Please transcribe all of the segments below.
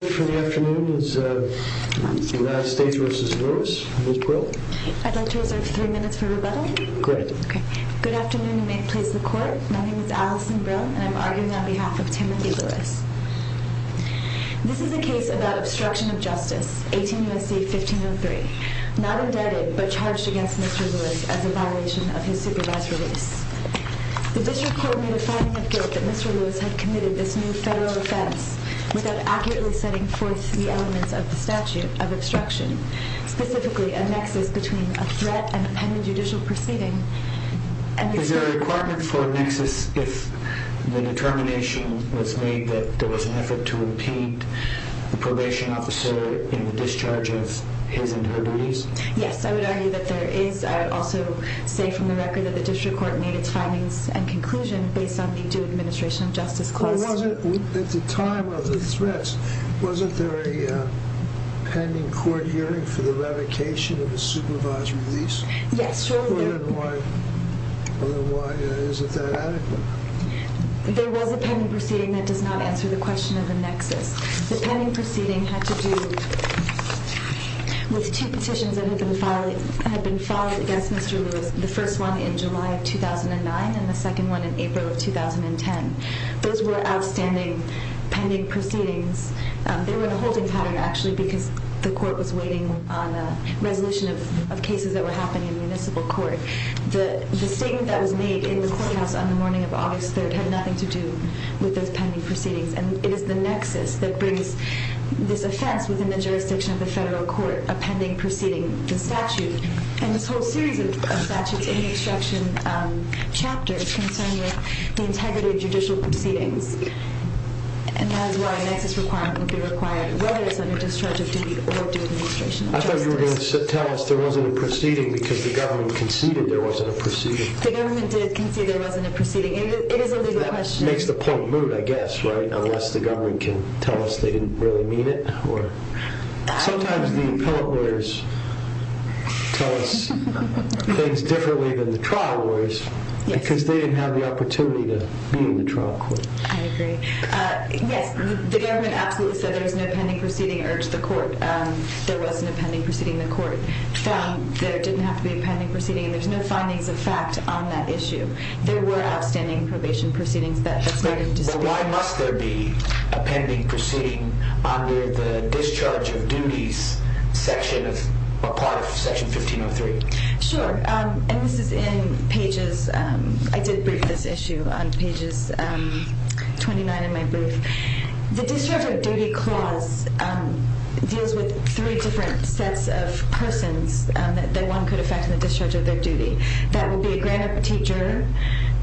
I'd like to reserve three minutes for rebuttal. Great. Good afternoon and may it please the court. My name is Allison Brill and I'm arguing on behalf of Timothy Lewis. This is a case about obstruction of justice, 18 U.S.C. 1503. Not indebted, but charged against Mr. Lewis as a violation of his supervised release. The district court made a finding of guilt that Mr. Lewis had committed this new federal offense without accurately setting forth the elements of the statute of obstruction, specifically a nexus between a threat and a pending judicial proceeding. Is there a requirement for a nexus if the determination was made that there was an effort to impede the probation officer in the discharge of his and her duties? Yes, I would argue that there is. I would also say from the record that the district court made its findings and conclusion based on the due administration of justice clause. At the time of the threats, wasn't there a pending court hearing for the revocation of a supervised release? Yes, surely there was. Then why is it that adequate? There was a pending proceeding that does not answer the question of the nexus. The pending proceeding had to do with two petitions that had been filed against Mr. Lewis, the first one in July of 2009 and the second one in April of 2010. Those were outstanding pending proceedings. They were in a holding pattern, actually, because the court was waiting on a resolution of cases that were happening in municipal court. The statement that was made in the courthouse on the morning of August 3rd had nothing to do with those pending proceedings, and it is the nexus that brings this offense within the jurisdiction of the federal court, a pending proceeding, the statute, and this whole series of statutes in the obstruction chapter that's concerned with the integrity of judicial proceedings. And that is why a nexus requirement would be required, whether it's under discharge of duty or due administration of justice. I thought you were going to tell us there wasn't a proceeding because the government conceded there wasn't a proceeding. The government did concede there wasn't a proceeding. It is a legal question. Makes the point moot, I guess, right? Unless the government can tell us they didn't really mean it. Sometimes the appellate lawyers tell us things differently than the trial lawyers because they didn't have the opportunity to be in the trial court. I agree. Yes, the government absolutely said there was no pending proceeding, urged the court. There was no pending proceeding in the court. There didn't have to be a pending proceeding, and there's no findings of fact on that issue. There were outstanding probation proceedings that's not in dispute. But why must there be a pending proceeding under the discharge of duties section, a part of Section 1503? Sure. And this is in pagesóI did brief this issue on pages 29 in my brief. The discharge of duty clause deals with three different sets of persons that one could affect in the discharge of their duty. That would be a grand or petite juror,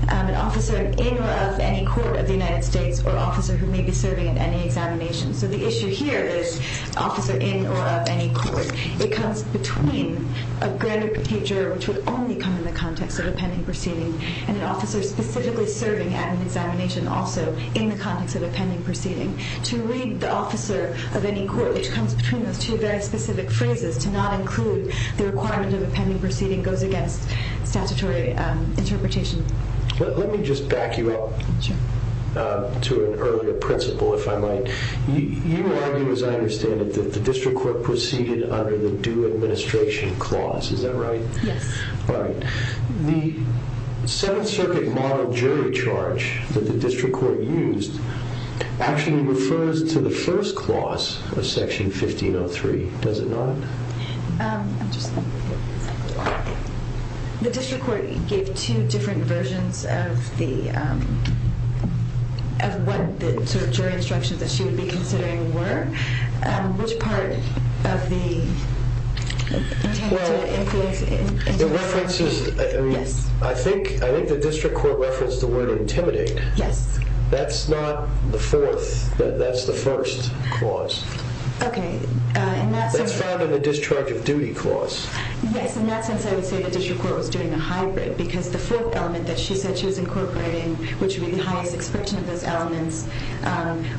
an officer in or of any court of the United States, or an officer who may be serving in any examination. So the issue here is officer in or of any court. It comes between a grand or petite juror, which would only come in the context of a pending proceeding, and an officer specifically serving at an examination also in the context of a pending proceeding. To read the officer of any court, which comes between those two very specific phrases, to not include the requirement of a pending proceeding goes against statutory interpretation. Let me just back you up to an earlier principle, if I might. You argue, as I understand it, that the district court proceeded under the due administration clause. Is that right? Yes. All right. The Seventh Circuit model jury charge that the district court used actually refers to the first clause of Section 1503, does it not? The district court gave two different versions of what the jury instructions that she would be considering were. Which part of the intent to influence? I think the district court referenced the word intimidate. Yes. That's not the fourth. That's the first clause. Okay. That's found in the discharge of duty clause. Yes. In that sense, I would say the district court was doing a hybrid, because the fourth element that she said she was incorporating, which would be the highest expression of those elements,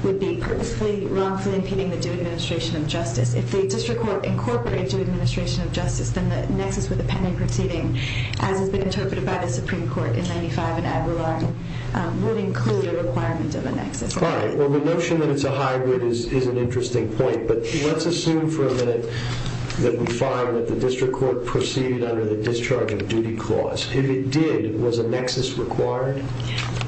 would be purposefully, wrongfully impeding the due administration of justice. If the district court incorporated due administration of justice, then the nexus with the pending proceeding, as has been interpreted by the Supreme Court in 95 and Aguilar, would include a requirement of a nexus. All right. Well, the notion that it's a hybrid is an interesting point, but let's assume for a minute that we find that the district court proceeded under the discharge of duty clause. If it did, was a nexus required?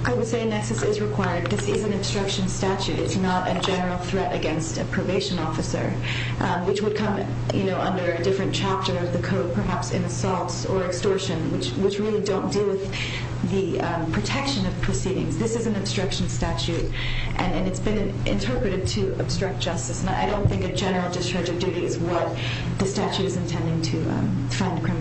I would say a nexus is required. This is an obstruction statute. It's not a general threat against a probation officer, which would come under a different chapter of the code, perhaps in assaults or extortion, which really don't deal with the protection of proceedings. This is an obstruction statute, and it's been interpreted to obstruct justice, and I don't think a general discharge of duty is what the statute is intending to find a criminal.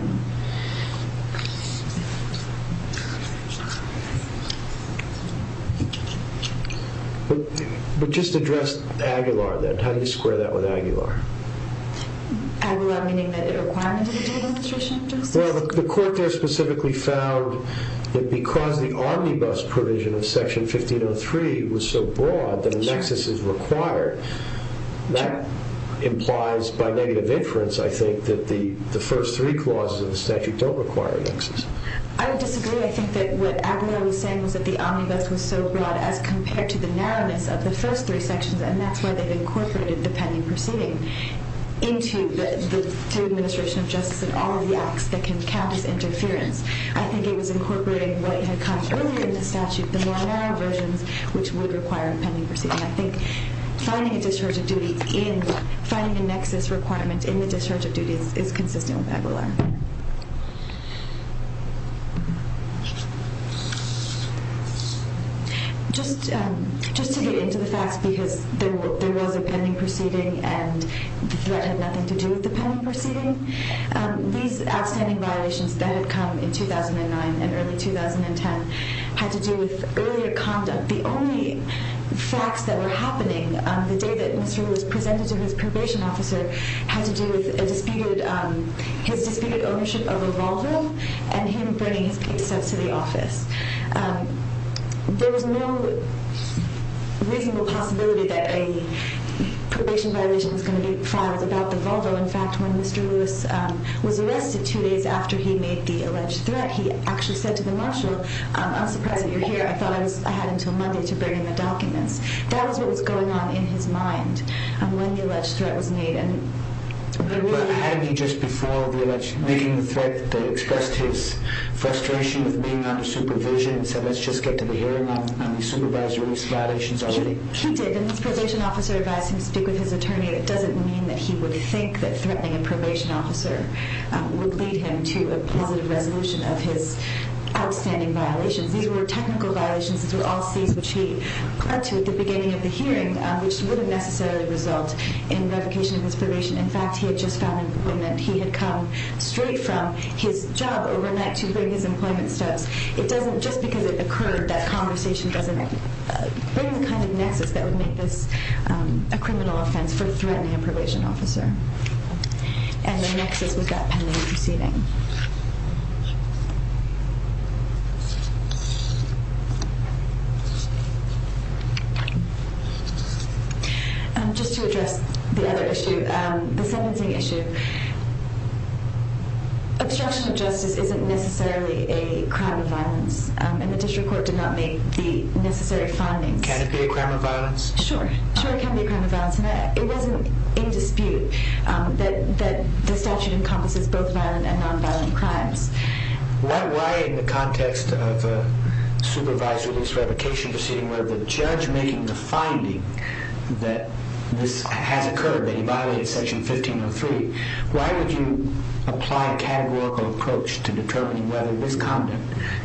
But just address Aguilar, then. How do you square that with Aguilar? Aguilar meaning that it required due administration of justice? Well, the court there specifically found that because the omnibus provision of Section 1503 was so broad that a nexus is required, that implies by negative inference, I think, that the first three clauses of the statute don't require a nexus. I would disagree. I think that what Aguilar was saying was that the omnibus was so broad as compared to the narrowness of the first three sections, and that's why they've incorporated the pending proceeding into the due administration of justice and all of the acts that can count as interference. I think it was incorporating what had come earlier in the statute, the more narrow versions which would require a pending proceeding. I think finding a discharge of duty in, finding a nexus requirement in the discharge of duty is consistent with Aguilar. Just to get into the facts, because there was a pending proceeding and the threat had nothing to do with the pending proceeding, these outstanding violations that had come in 2009 and early 2010 had to do with earlier conduct. The only facts that were happening on the day that Mr. Aguilar was presented to his probation officer had to do with his disputed ownership of a Volvo and him bringing his case up to the office. There was no reasonable possibility that a probation violation was going to be filed about the Volvo. In fact, when Mr. Lewis was arrested two days after he made the alleged threat, he actually said to the marshal, I'm surprised that you're here. I thought I had until Monday to bring in the documents. That was what was going on in his mind when the alleged threat was made. Hadn't he just before making the threat, expressed his frustration with being under supervision and said let's just get to the hearing on these supervisory violations already? He did. His probation officer advised him to speak with his attorney. It doesn't mean that he would think that threatening a probation officer would lead him to a positive resolution of his outstanding violations. These were technical violations. These were all scenes which he clung to at the beginning of the hearing, which wouldn't necessarily result in revocation of his probation. In fact, he had just filed an appointment. He had come straight from his job overnight to bring his employment stubs. Just because it occurred, that conversation doesn't bring the kind of nexus that would make this a criminal offense for threatening a probation officer. And the nexus was that pending proceeding. Just to address the other issue, the sentencing issue. Obstruction of justice isn't necessarily a crime of violence. And the district court did not make the necessary findings. Can it be a crime of violence? Sure. Sure, it can be a crime of violence. And it wasn't in dispute that the statute encompasses both violent and nonviolent crimes. Why in the context of a supervisory release revocation proceeding where the judge making the finding that this has occurred, that he violated Section 1503, why would you apply a categorical approach to determining whether this content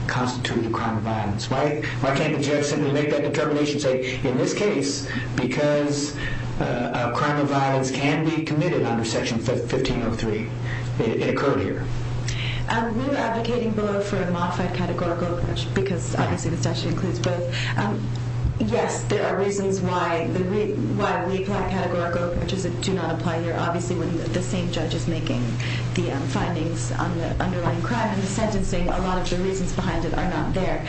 constitutes a crime of violence? Why can't the judge simply make that determination and say, in this case, because a crime of violence can be committed under Section 1503, it occurred here? We're advocating below for a modified categorical approach because, obviously, the statute includes both. Yes, there are reasons why we apply a categorical approach. It does not apply here. Obviously, when the same judge is making the findings on the underlying crime and the sentencing, a lot of the reasons behind it are not there.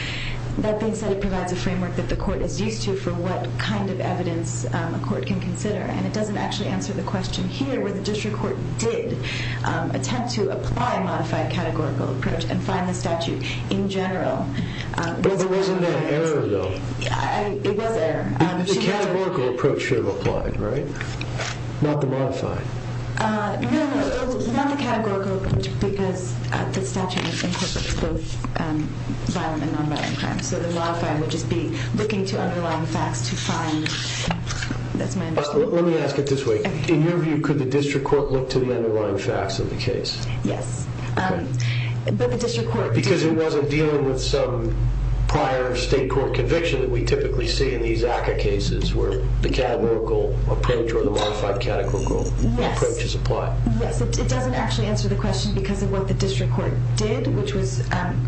That being said, it provides a framework that the court is used to for what kind of evidence a court can consider. And it doesn't actually answer the question here where the district court did attempt to apply a modified categorical approach and find the statute in general. But there wasn't an error, though. It was there. The categorical approach should have applied, right? Not the modified. No, not the categorical approach because the statute incorporates both violent and nonviolent crimes. So the modified would just be looking to underlying facts to find. Let me ask it this way. In your view, could the district court look to the underlying facts of the case? Yes. Because it wasn't dealing with some prior state court conviction that we typically see in these ACCA cases where the categorical approach or the modified categorical approach is applied. Yes. It doesn't actually answer the question because of what the district court did, which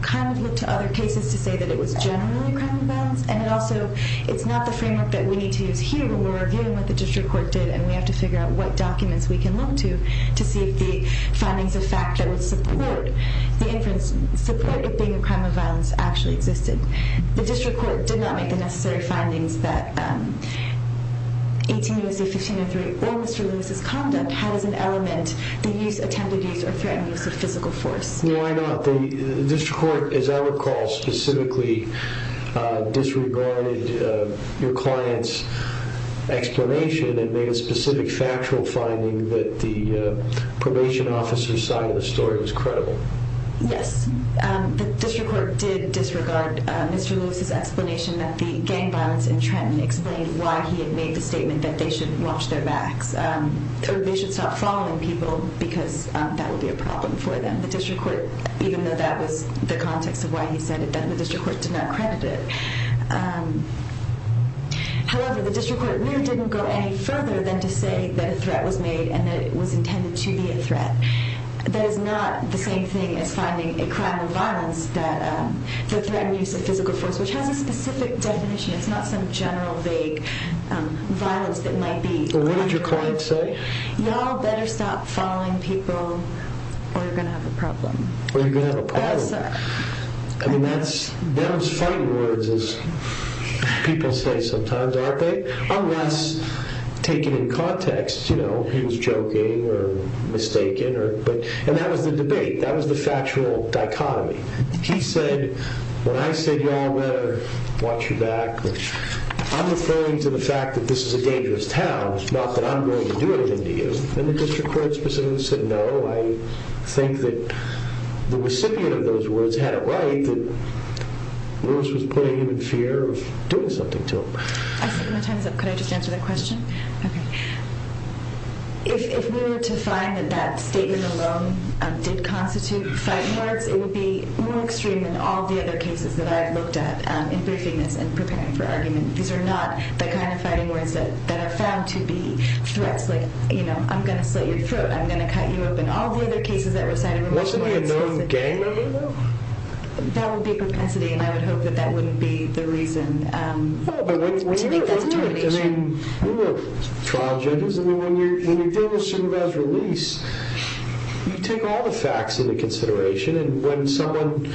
kind of led to other cases to say that it was generally a crime of violence. And also, it's not the framework that we need to use here when we're arguing what the district court did and we have to figure out what documents we can look to to see if the findings of fact that would support the inference, support it being a crime of violence, actually existed. The district court did not make the necessary findings that 18 U.S.C. 1503 or Mr. Lewis's conduct had as an element that used attempted use or threatened use of physical force. Why not? The district court, as I recall, specifically disregarded your client's explanation and made a specific factual finding that the probation officer's side of the story was credible. Yes. The district court did disregard Mr. Lewis's explanation that the gang violence entrapment explained why he had made the statement that they should watch their backs or they should stop following people because that would be a problem for them. The district court, even though that was the context of why he said it, the district court did not credit it. However, the district court really didn't go any further than to say that a threat was made and that it was intended to be a threat. That is not the same thing as finding a crime of violence that threatened use of physical force, which has a specific definition. It's not some general, vague violence that might be underrated. What did your client say? Y'all better stop following people or you're going to have a problem. Or you're going to have a problem. I mean, that was funny words, as people say sometimes, aren't they? Unless taken in context, you know, he was joking or mistaken. And that was the debate. That was the factual dichotomy. He said, when I said y'all better watch your back, I'm referring to the fact that this is a dangerous town. It's not that I'm going to do anything to you. And the district court specifically said no. I think that the recipient of those words had it right that Lewis was putting him in fear of doing something to him. I think my time's up. Could I just answer that question? Okay. If we were to find that that statement alone did constitute fighting words, it would be more extreme than all the other cases that I've looked at in briefing this and preparing for argument. These are not the kind of fighting words that are found to be threats, like, you know, I'm going to slit your throat. I'm going to cut you open. All the other cases that were cited were more specific. Wasn't he a known gang member, though? That would be a propensity, and I would hope that that wouldn't be the reason. To me, that's no reason. We were trial judges. I mean, when you're dealing with supervised release, you take all the facts into consideration. And when someone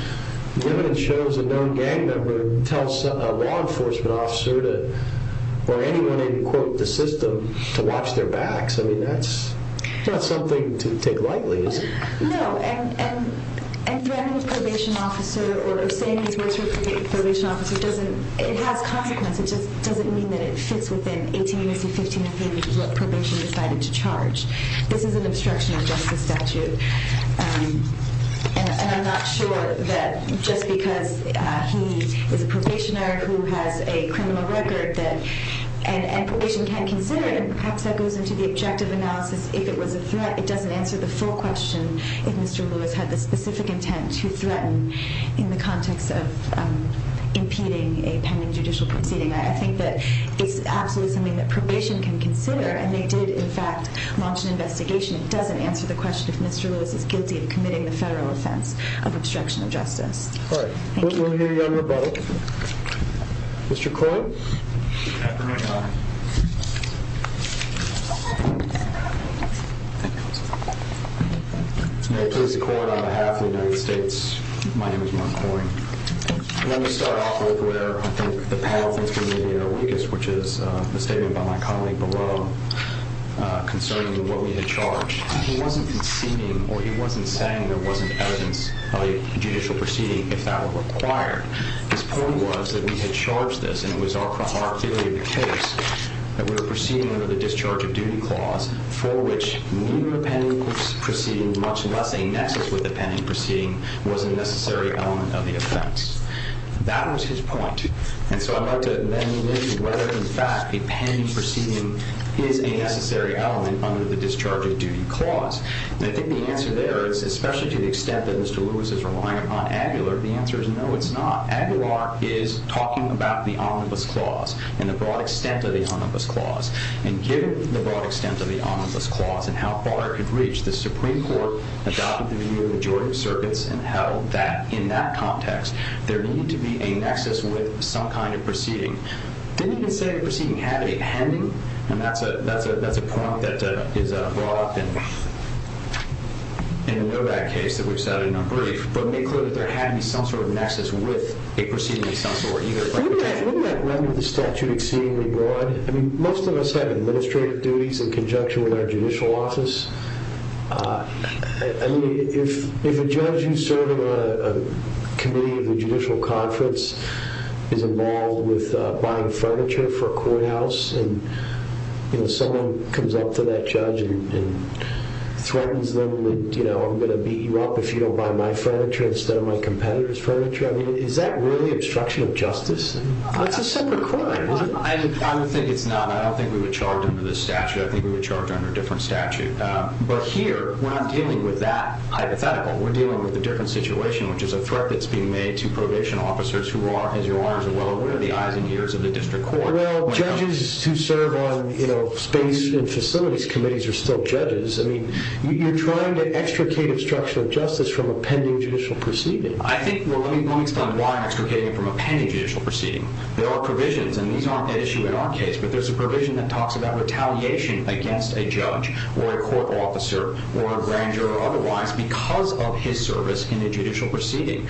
shows a known gang member tells a law enforcement officer or anyone in, quote, the system to watch their backs, I mean, that's not something to take lightly, is it? No. And threatening a probation officer or saying these words to a probation officer doesn't – it has consequence. It just doesn't mean that it fits within 18 minutes to 15 minutes of what probation decided to charge. This is an obstruction of justice statute. And I'm not sure that just because he is a probationer who has a criminal record that – and probation can consider it, perhaps that goes into the objective analysis. If it was a threat, it doesn't answer the full question if Mr. Lewis had the specific intent to threaten in the context of impeding a pending judicial proceeding. I think that it's absolutely something that probation can consider, and they did, in fact, launch an investigation. It doesn't answer the question if Mr. Lewis is guilty of committing the federal offense of obstruction of justice. All right. We'll hear you on rebuttal. Mr. Corwin? After my time. May it please the court, on behalf of the United States, my name is Mark Corwin. Let me start off with where I think the panel thinks we may be at our weakest, which is the statement by my colleague below concerning what we had charged. He wasn't conceding, or he wasn't saying there wasn't evidence of a judicial proceeding if that were required. His point was that we had charged this, and it was our theory of the case, that we were proceeding under the discharge of duty clause for which meeting a pending proceeding, much less a nexus with a pending proceeding, was a necessary element of the offense. That was his point. And so I'd like to then move into whether, in fact, a pending proceeding is a necessary element under the discharge of duty clause. And I think the answer there is, especially to the extent that Mr. Lewis is relying upon Aguilar, the answer is no, it's not. Aguilar is talking about the omnibus clause and the broad extent of the omnibus clause. And given the broad extent of the omnibus clause and how far it could reach, the Supreme Court adopted the view of the majority of circuits and held that, in that context, there needed to be a nexus with some kind of proceeding. It didn't even say the proceeding had a pending, and that's a point that is brought up in the Novak case that we've cited in our brief. But make clear that there had to be some sort of nexus with a proceeding of some sort either. Wouldn't that render the statute exceedingly broad? I mean, most of us have administrative duties in conjunction with our judicial office. I mean, if a judge who's serving on a committee of the judicial conference is involved with buying furniture for a courthouse and someone comes up to that judge and threatens them with, you know, I'm going to beat you up if you don't buy my furniture instead of my competitor's furniture, I mean, is that really obstruction of justice? That's a separate court, isn't it? I don't think it's not. I don't think we would charge under this statute. I think we would charge under a different statute. But here, we're not dealing with that hypothetical. We're dealing with a different situation, which is a threat that's being made to probation officers who are, as you are as well, aware of the eyes and ears of the district court. Well, judges who serve on, you know, space and facilities committees are still judges. I mean, you're trying to extricate obstruction of justice from a pending judicial proceeding. I think, well, let me explain why I'm extricating it from a pending judicial proceeding. There are provisions, and these aren't at issue in our case, but there's a provision that talks about retaliation against a judge or a court officer or a grand juror otherwise because of his service in a judicial proceeding.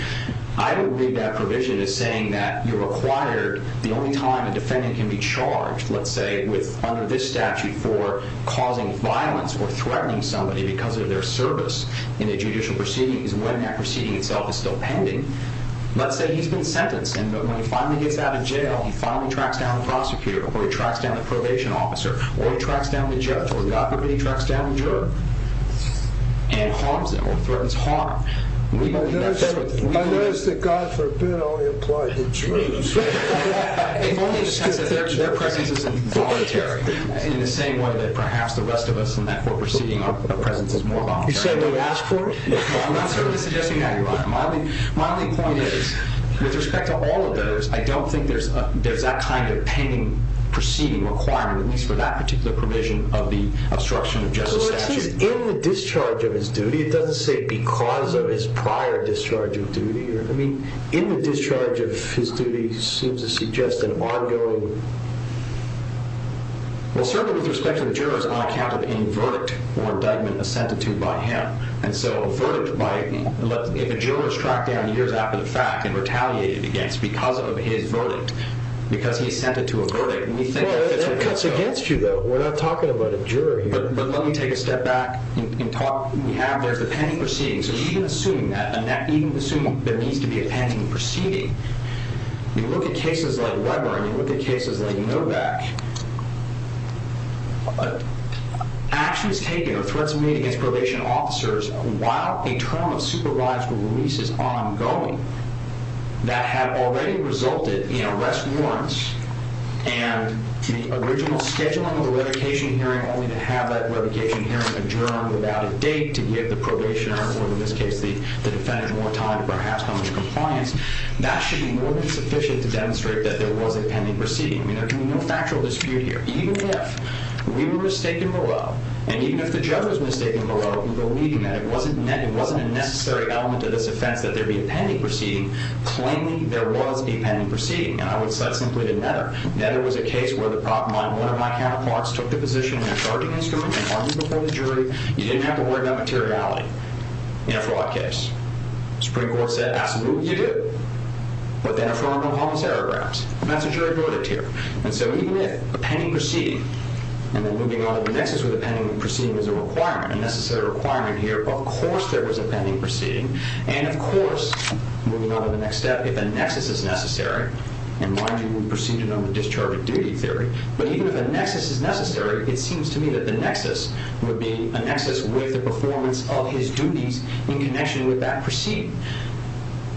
I don't believe that provision is saying that you're required, the only time a defendant can be charged, let's say, under this statute for causing violence or threatening somebody because of their service in a judicial proceeding is when that proceeding itself is still pending. Let's say he's been sentenced, and when he finally gets out of jail, he finally tracks down the prosecutor or he tracks down the probation officer or he tracks down the judge or, God forbid, he tracks down the juror and harms them or threatens harm. We don't do that. I notice that, God forbid, I only apply to the jurors. If only in the sense that their presence isn't voluntary in the same way that perhaps the rest of us in that court proceeding our presence is more voluntary. You said we would ask for it? No, I'm not certainly suggesting that, Your Honor. My only point is, with respect to all of those, I don't think there's that kind of pending proceeding requirement, at least for that particular provision of the obstruction of justice statute. In the discharge of his duty, it doesn't say because of his prior discharge of duty. I mean, in the discharge of his duty, it seems to suggest an ongoing... Well, certainly with respect to the jurors, on account of any verdict or indictment assented to by him. And so a verdict by... If a juror is tracked down years after the fact and retaliated against because of his verdict, because he's assented to a verdict... Well, that cuts against you, though. We're not talking about a juror here. But let me take a step back and talk... There's the pending proceeding. So even assuming that needs to be a pending proceeding, you look at cases like Weber and you look at cases like Novak... Actions taken or threats made against probation officers while a term of supervised release is ongoing that have already resulted in arrest warrants and the original scheduling of the revocation hearing only to have that revocation hearing adjourned without a date to give the probationer or, in this case, the defendant more time to perhaps come into compliance, that should be more than sufficient to demonstrate that there was a pending proceeding. I mean, there can be no factual dispute here. Even if Weber was taken below and even if the judge was mistaken below in believing that it wasn't a necessary element of this offense that there be a pending proceeding, claiming there was a pending proceeding, and I would cite simply to Nether... Nether was a case where one of my counterparts took the position in their charging instrument and argued before the jury. You didn't have to worry about materiality in a fraud case. The Supreme Court said, absolutely, you do. But then affirmed Obama's arograms. That's a jury verdict here. And so even if a pending proceeding and then moving on to the nexus with a pending proceeding is a requirement, a necessary requirement here, of course there was a pending proceeding, and of course, moving on to the next step, if a nexus is necessary, and mind you, we proceeded on the discharging duty theory, but even if a nexus is necessary, it seems to me that the nexus would be a nexus with the performance of his duties in connection with that proceeding.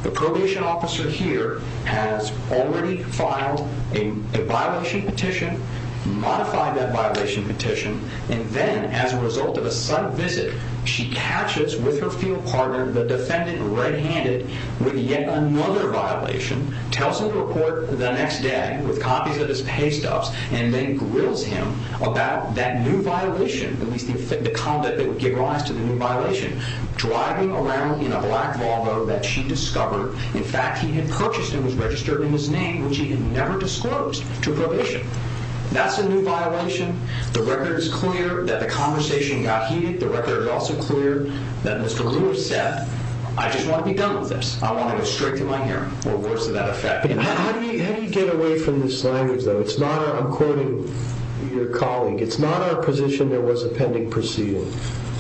The probation officer here has already filed a violation petition, modified that violation petition, and then, as a result of a sub-visit, she catches with her field partner, the defendant, red-handed, with yet another violation, tells him to report the next day with copies of his pay stubs, and then grills him about that new violation, at least the conduct that would give rise to the new violation, driving around in a black Volvo that she discovered, in fact, he had purchased and was registered in his name, which he had never disclosed to probation. That's a new violation. The record is clear that the conversation got heated. The record is also clear that Mr. Lewis said, I just want to be done with this. I want to go straight to my hearing, or worse to that effect. How do you get away from this language, though? It's not our, I'm quoting your colleague, it's not our position there was a pending proceeding.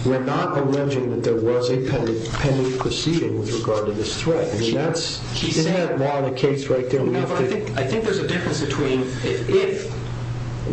We're not alleging that there was a pending proceeding with regard to this threat. I mean, that's, isn't that law and the case right there? I think there's a difference between if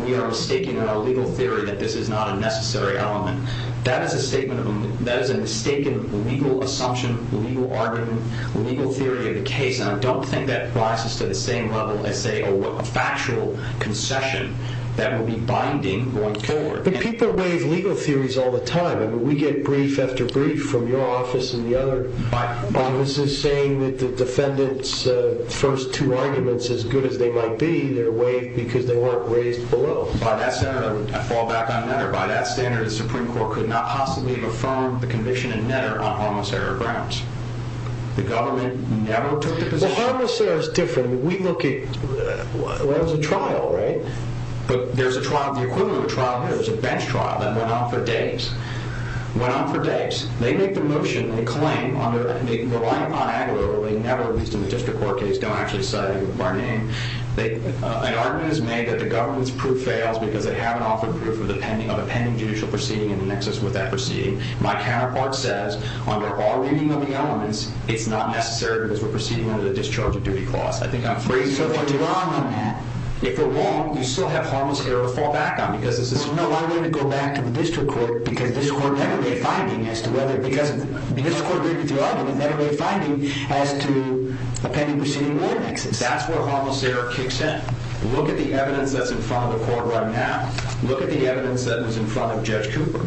we are mistaken in our legal theory that this is not a necessary element. That is a statement of a, that is a mistaken legal assumption, legal argument, legal theory of the case, and I don't think that applies to the same level as, say, a factual concession that will be binding going forward. But people waive legal theories all the time. I mean, we get brief after brief from your office and the other offices saying that the defendant's first two arguments, as good as they might be, they're waived because they weren't raised below. By that standard, I fall back on Netter. By that standard, the Supreme Court could not possibly have affirmed the conviction in Netter on homicidal grounds. The government never took the position. Well, homicidal is different. I mean, we look at, well, it was a trial, right? But there's a trial, the equivalent of a trial here, there's a bench trial that went on for days. Went on for days. They make the motion, they claim, on their, they rely upon Aguilera, they never, at least in the district court case, don't actually say our name. An argument is made that the government's proof fails because they haven't offered proof of a pending judicial proceeding in the nexus with that proceeding. My counterpart says, under all reading of the elements, it's not necessary because we're proceeding under the discharge of duty clause. I think I'm phrasing it wrong. So if you're wrong on that. If you're wrong, you still have harmless error to fall back on. Because this is. No, I wouldn't go back to the district court because this court never made a finding as to whether, because the district court agreed with your argument, never made a finding as to a pending proceeding in the nexus. That's where harmless error kicks in. Look at the evidence that's in front of the court right now. Look at the evidence that was in front of Judge Cooper.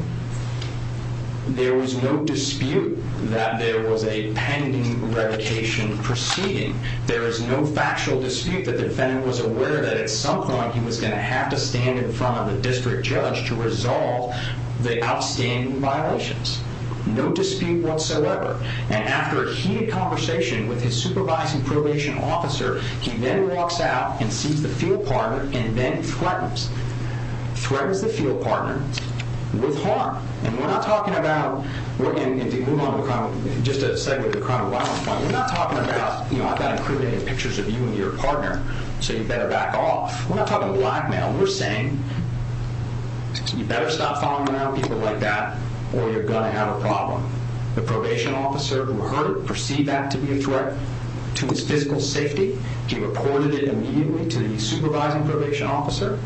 There was no dispute that there was a pending revocation proceeding. There is no factual dispute that the defendant was aware that at some point he was going to have to stand in front of the district judge to resolve the outstanding violations. No dispute whatsoever. And after a heated conversation with his supervising probation officer, he then walks out and sees the field partner and then threatens, threatens the field partner with harm. And we're not talking about, and to move on, just to segue to the crime of violence, we're not talking about, you know, I've got incriminating pictures of you and your partner, so you better back off. We're not talking blackmail. We're saying you better stop following around people like that or you're going to have a problem. The probation officer who heard it perceived that to be a threat to his physical safety. He reported it immediately to the supervising probation officer.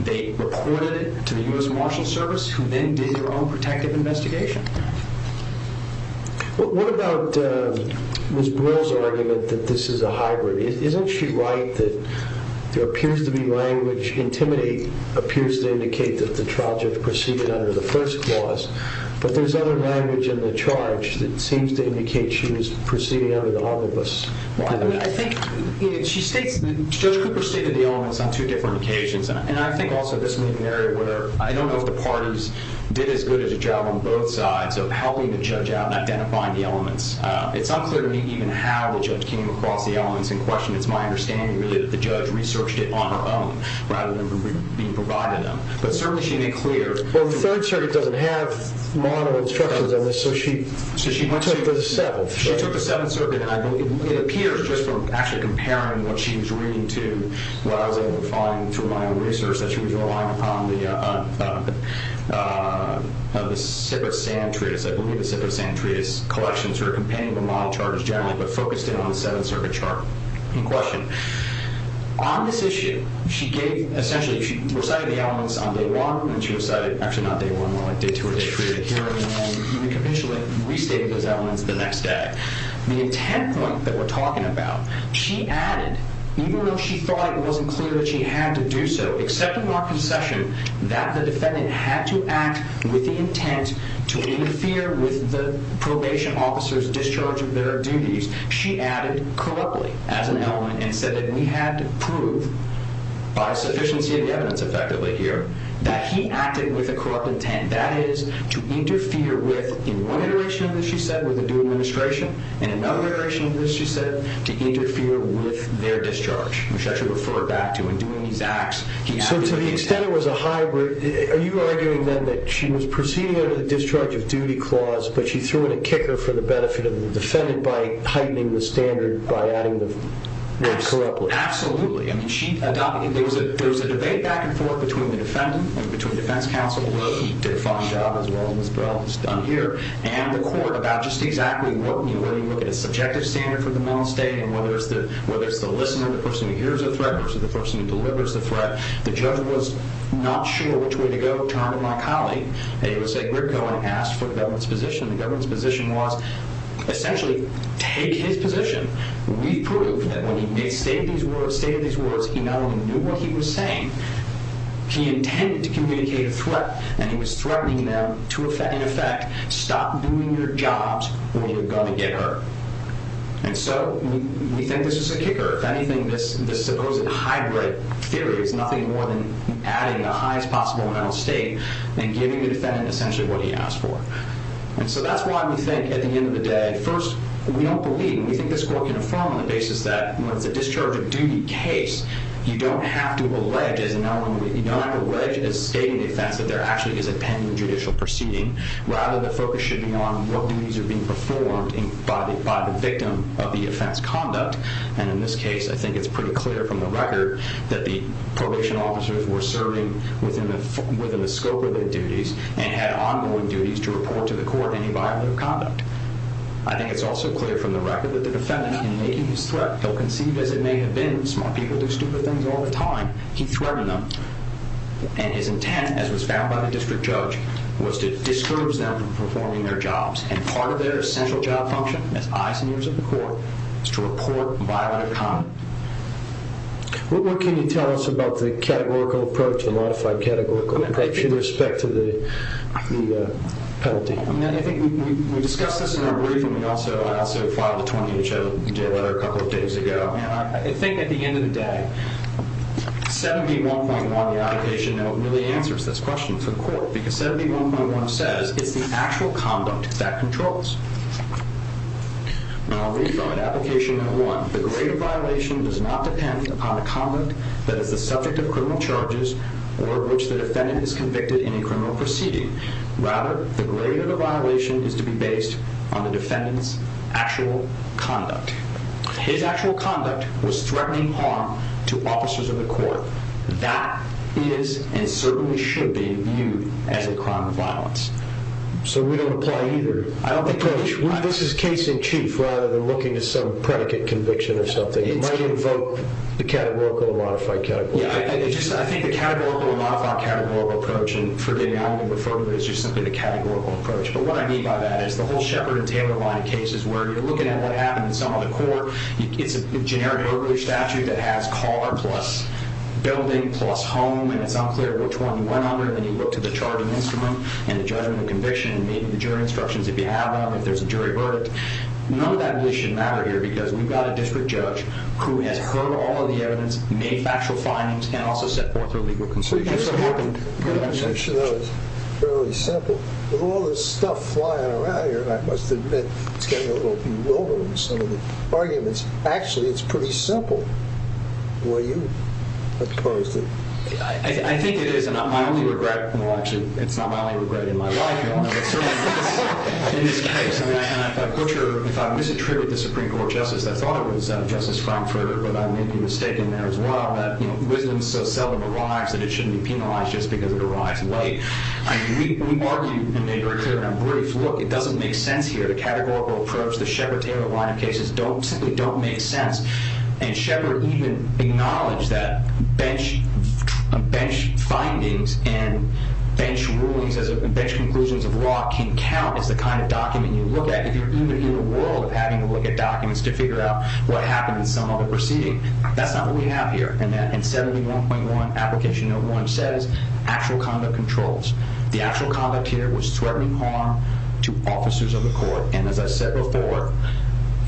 They reported it to the U.S. Marshal Service who then did their own protective investigation. What about Ms. Brill's argument that this is a hybrid? Isn't she right that there appears to be language, intimidate appears to indicate that the charge was preceded under the first clause, but there's other language in the charge that seems to indicate she was preceded under the all-of-us. I think she states that Judge Cooper stated the elements on two different occasions, and I think also this may be an area where I don't know if the parties did as good as a job on both sides of helping the judge out and identifying the elements. It's unclear to me even how the judge came across the elements in question. It's my understanding that the judge researched it on her own rather than being provided them, but certainly she made clear... Well, the Third Circuit doesn't have model instructions on this, so she took the Seventh. She took the Seventh Circuit, and I believe it appears just from actually comparing what she was reading to what I was able to find through my own research that she was relying upon the Sipper-Sand Treatise. I believe the Sipper-Sand Treatise collections are a companion of the model charges generally, but focused in on the Seventh Circuit chart in question. On this issue, she gave... Essentially, she recited the elements on day one, and she recited... Actually, not day one, more like day two or day three, to hear it, and then even conventionally restated those elements the next day. The intent point that we're talking about, she added, even though she thought it wasn't clear that she had to do so except in our concession that the defendant had to act with the intent to interfere with the probation officer's discharge of their duties, she added corruptly as an element and said that we had to prove, by sufficiency of the evidence, effectively, here, that he acted with a corrupt intent, that is, to interfere with... In one iteration of this, she said, with the due administration, and another iteration of this, she said, to interfere with their discharge, which I should refer back to. So to the extent it was a hybrid, are you arguing then that she was proceeding under the discharge of duty clause, but she threw in a kicker for the benefit of the defendant by heightening the standard by adding the word corruptly? Absolutely. I mean, she adopted... There was a debate back and forth between the defendant and between defense counsel, where he did a fine job as well, as Miss Burrell has done here, and the court about just exactly what... When you look at a subjective standard for the mental state and whether it's the listener, the person who hears a threat, or the person who delivers the threat, the judge was not sure which way to go, turned to my colleague, and he would say, grit going, asked for the government's position. The government's position was, essentially, take his position. We've proved that when he made state of these words, he not only knew what he was saying, he intended to communicate a threat, and he was threatening them to, in effect, stop doing your jobs or you're going to get hurt. And so we think this was a kicker. If anything, this supposed hybrid theory is nothing more than adding the highest possible mental state and giving the defendant, essentially, what he asked for. And so that's why we think, at the end of the day, first, we don't believe, and we think this court can affirm on the basis that when it's a discharge of duty case, you don't have to allege, you don't have to allege as stating the offense that there actually is a pending judicial proceeding. Rather, the focus should be on what duties are being performed by the victim of the offense conduct, and in this case, I think it's pretty clear from the record that the probation officers were serving within the scope of their duties and had ongoing duties to report to the court any violent conduct. I think it's also clear from the record that the defendant, in making his threat, though conceived as it may have been, smart people do stupid things all the time, he threatened them. And his intent, as was found by the district judge, was to discourage them from performing their jobs. And part of their essential job function in the eyes and ears of the court is to report violent conduct. What more can you tell us about the categorical approach, the modified categorical approach, with respect to the penalty? I think we discussed this in our briefing. I also filed a 20-inch letter a couple of days ago. And I think at the end of the day, 71.1, the application note, really answers this question for the court because 71.1 says it's the actual conduct that controls. Now, I'll read from it. Application note one. The grade of violation does not depend upon the conduct that is the subject of criminal charges or which the defendant is convicted in a criminal proceeding. Rather, the grade of the violation is to be based on the defendant's actual conduct. His actual conduct was threatening harm to officers of the court. That is and certainly should be viewed as a crime of violence. So we don't apply either. This is case in chief rather than looking to some predicate conviction or something. It might invoke the categorical or modified categorical approach. I think the categorical or modified categorical approach, and forgive me, I'm going to refer to it as just simply the categorical approach. But what I mean by that is the whole Shepard and Taylor line of cases where you're looking at what happened in some other court. It's a generic early statute that has car plus building plus home. And it's unclear which one you went under. And then you look to the charging instrument and the judgment of conviction. Maybe the jury instructions, if you have them, if there's a jury verdict. None of that really should matter here because we've got a district judge who has heard all of the evidence, made factual findings, and also set forth her legal conclusions. I should note, it's fairly simple. With all this stuff flying around here, I must admit, it's getting a little bewildering, some of the arguments. Actually, it's pretty simple. Boy, you have caused it. I think it is, and it's not my only regret in my life. In this case, if I misattribute the Supreme Court justice, I thought it was Justice Frankfurter, but I may be mistaken there as well. Wisdom so seldom arrives that it shouldn't be penalized just because it arrives late. I mean, we argued and made very clear in our brief, look, it doesn't make sense here. The categorical approach, the Sheppard-Taylor line of cases simply don't make sense. And Sheppard even acknowledged that bench findings and bench conclusions of law can count as the kind of document you look at if you're even in the world of having to look at documents to figure out what happened in some other proceeding. That's not what we have here, and that in 71.1, application number one says actual conduct controls. The actual conduct here was threatening harm to officers of the court, and as I said before,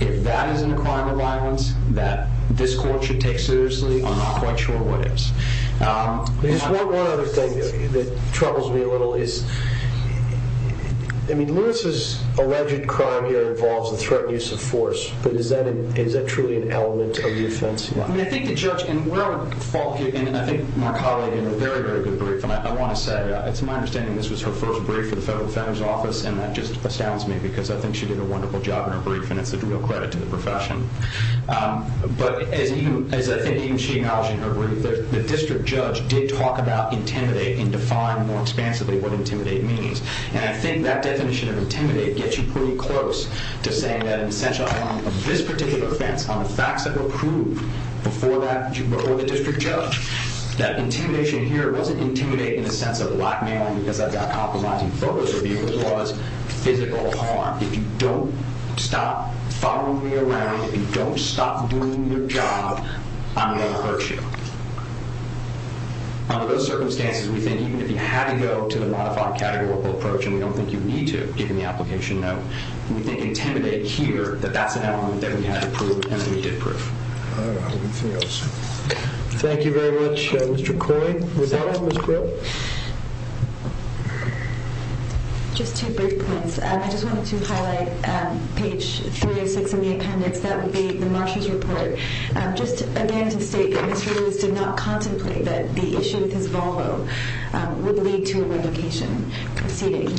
if that isn't a crime of violence that this court should take seriously, I'm not quite sure what is. There's one other thing that troubles me a little is, I mean, Lewis's alleged crime here involves the threat and use of force, but is that truly an element of defense? I think the judge, and where I would fault you, and I think my colleague in a very, very good brief, and I want to say, it's my understanding this was her first brief for the Federal Defender's Office, and that just astounds me because I think she did a wonderful job in her brief, and it's a real credit to the profession. But as I think even she acknowledged in her brief, the district judge did talk about intimidate and define more expansively what intimidate means. And I think that definition of intimidate gets you pretty close to saying that an essential element of this particular offense, on the facts that were proved before the district judge, that intimidation here wasn't intimidating in the sense of blackmailing because I've got compromising photos of people who cause physical harm. If you don't stop following me around, if you don't stop doing your job, I'm going to hurt you. Under those circumstances, we think even if you had to go to the modified categorical approach and we don't think you need to, given the application note, we think intimidate here that that's an element that we had to prove and that we did prove. All right, anything else? Thank you very much, Mr. Coy. With that, Ms. Grill? Just two brief points. I just wanted to highlight page 306 in the appendix. the marshal's report. Just again to state that Mr. Lewis did not contemplate that the issue with his Volvo would lead to a race between the district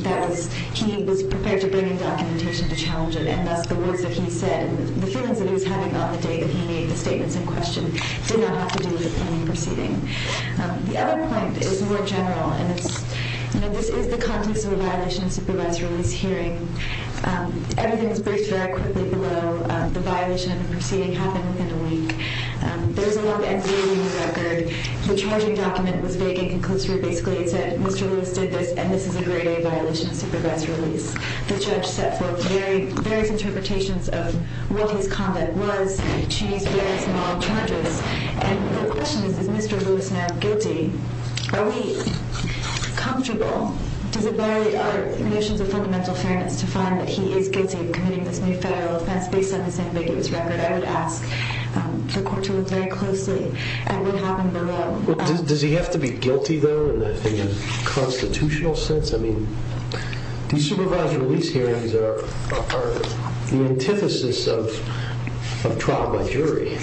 judge proceeding. He was prepared to bring in documentation to challenge it and thus the words that he said and the feelings that he was having on the day that he made the statements in question did not have to do with any proceeding. The other point is more general and it's, you know, this is the context of a violation of supervisory release hearing. Everything was braced very quickly below the violation of the proceeding happened within a week. There's a long NDA record. The charging document was vague and conclusive. Basically, it said Mr. Lewis did this and this is a grade A violation of supervisory release. The judge set forth various interpretations of what his comment was to these very small charges and the question is is Mr. Lewis now guilty? Are we comfortable? Does it vary our notions of fundamental fairness to find that he is guilty of committing based on his ambiguous record? I would ask the court to look very closely at what happened below. Does he have to be guilty though? I think that's a very important point. In a constitutional sense I mean these supervisory release hearings are the antithesis of trial by jury.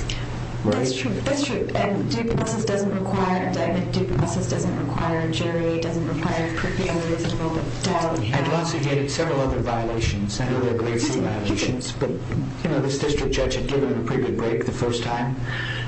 That's true. That's true. And due process doesn't require jury. It doesn't require previous development. I'd also get several other violations. I know there are grade C violations but you know this district judge had given him a pretty good break the first time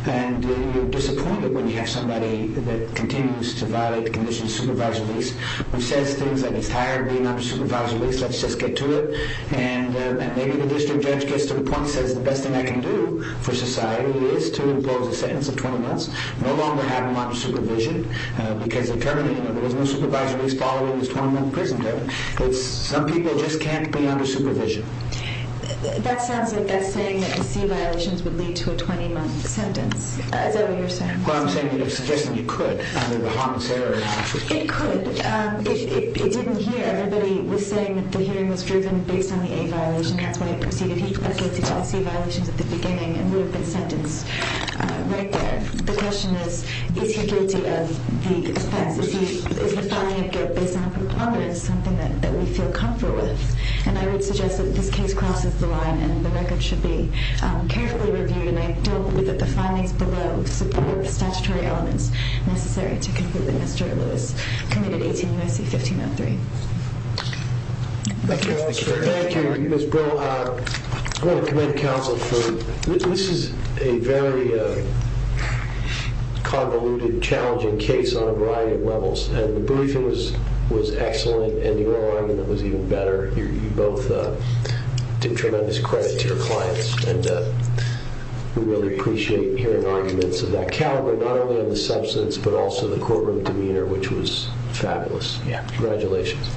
and you're disappointed when you have somebody that continues to violate the conditions of supervisory release who says things like it's tiring being under supervisory release let's just get to it and maybe the district judge gets to the point and says the best thing I can do for society is to impose a sentence of 20 months no longer having them under supervision because the term there was no supervisory release following his 20 month prison term some people just can't be under supervision. That sounds like that's saying that the C violations would lead to a 20 month sentence. Is that what you're saying? I'm saying you could under the harm and terror it could it didn't hear everybody was saying that the hearing was driven based on the A violation that's why it proceeded to tell C violations at the I think this case crosses the line and the record should be carefully reviewed and I don't believe that the findings below support the statutory elements necessary to conclude the Mr. Lewis 1503. Thank you. I want to give tremendous credit to your clients and we really appreciate hearing arguments of that caliber not only on the substance but also the courtroom demeanor which was fabulous. Congratulations.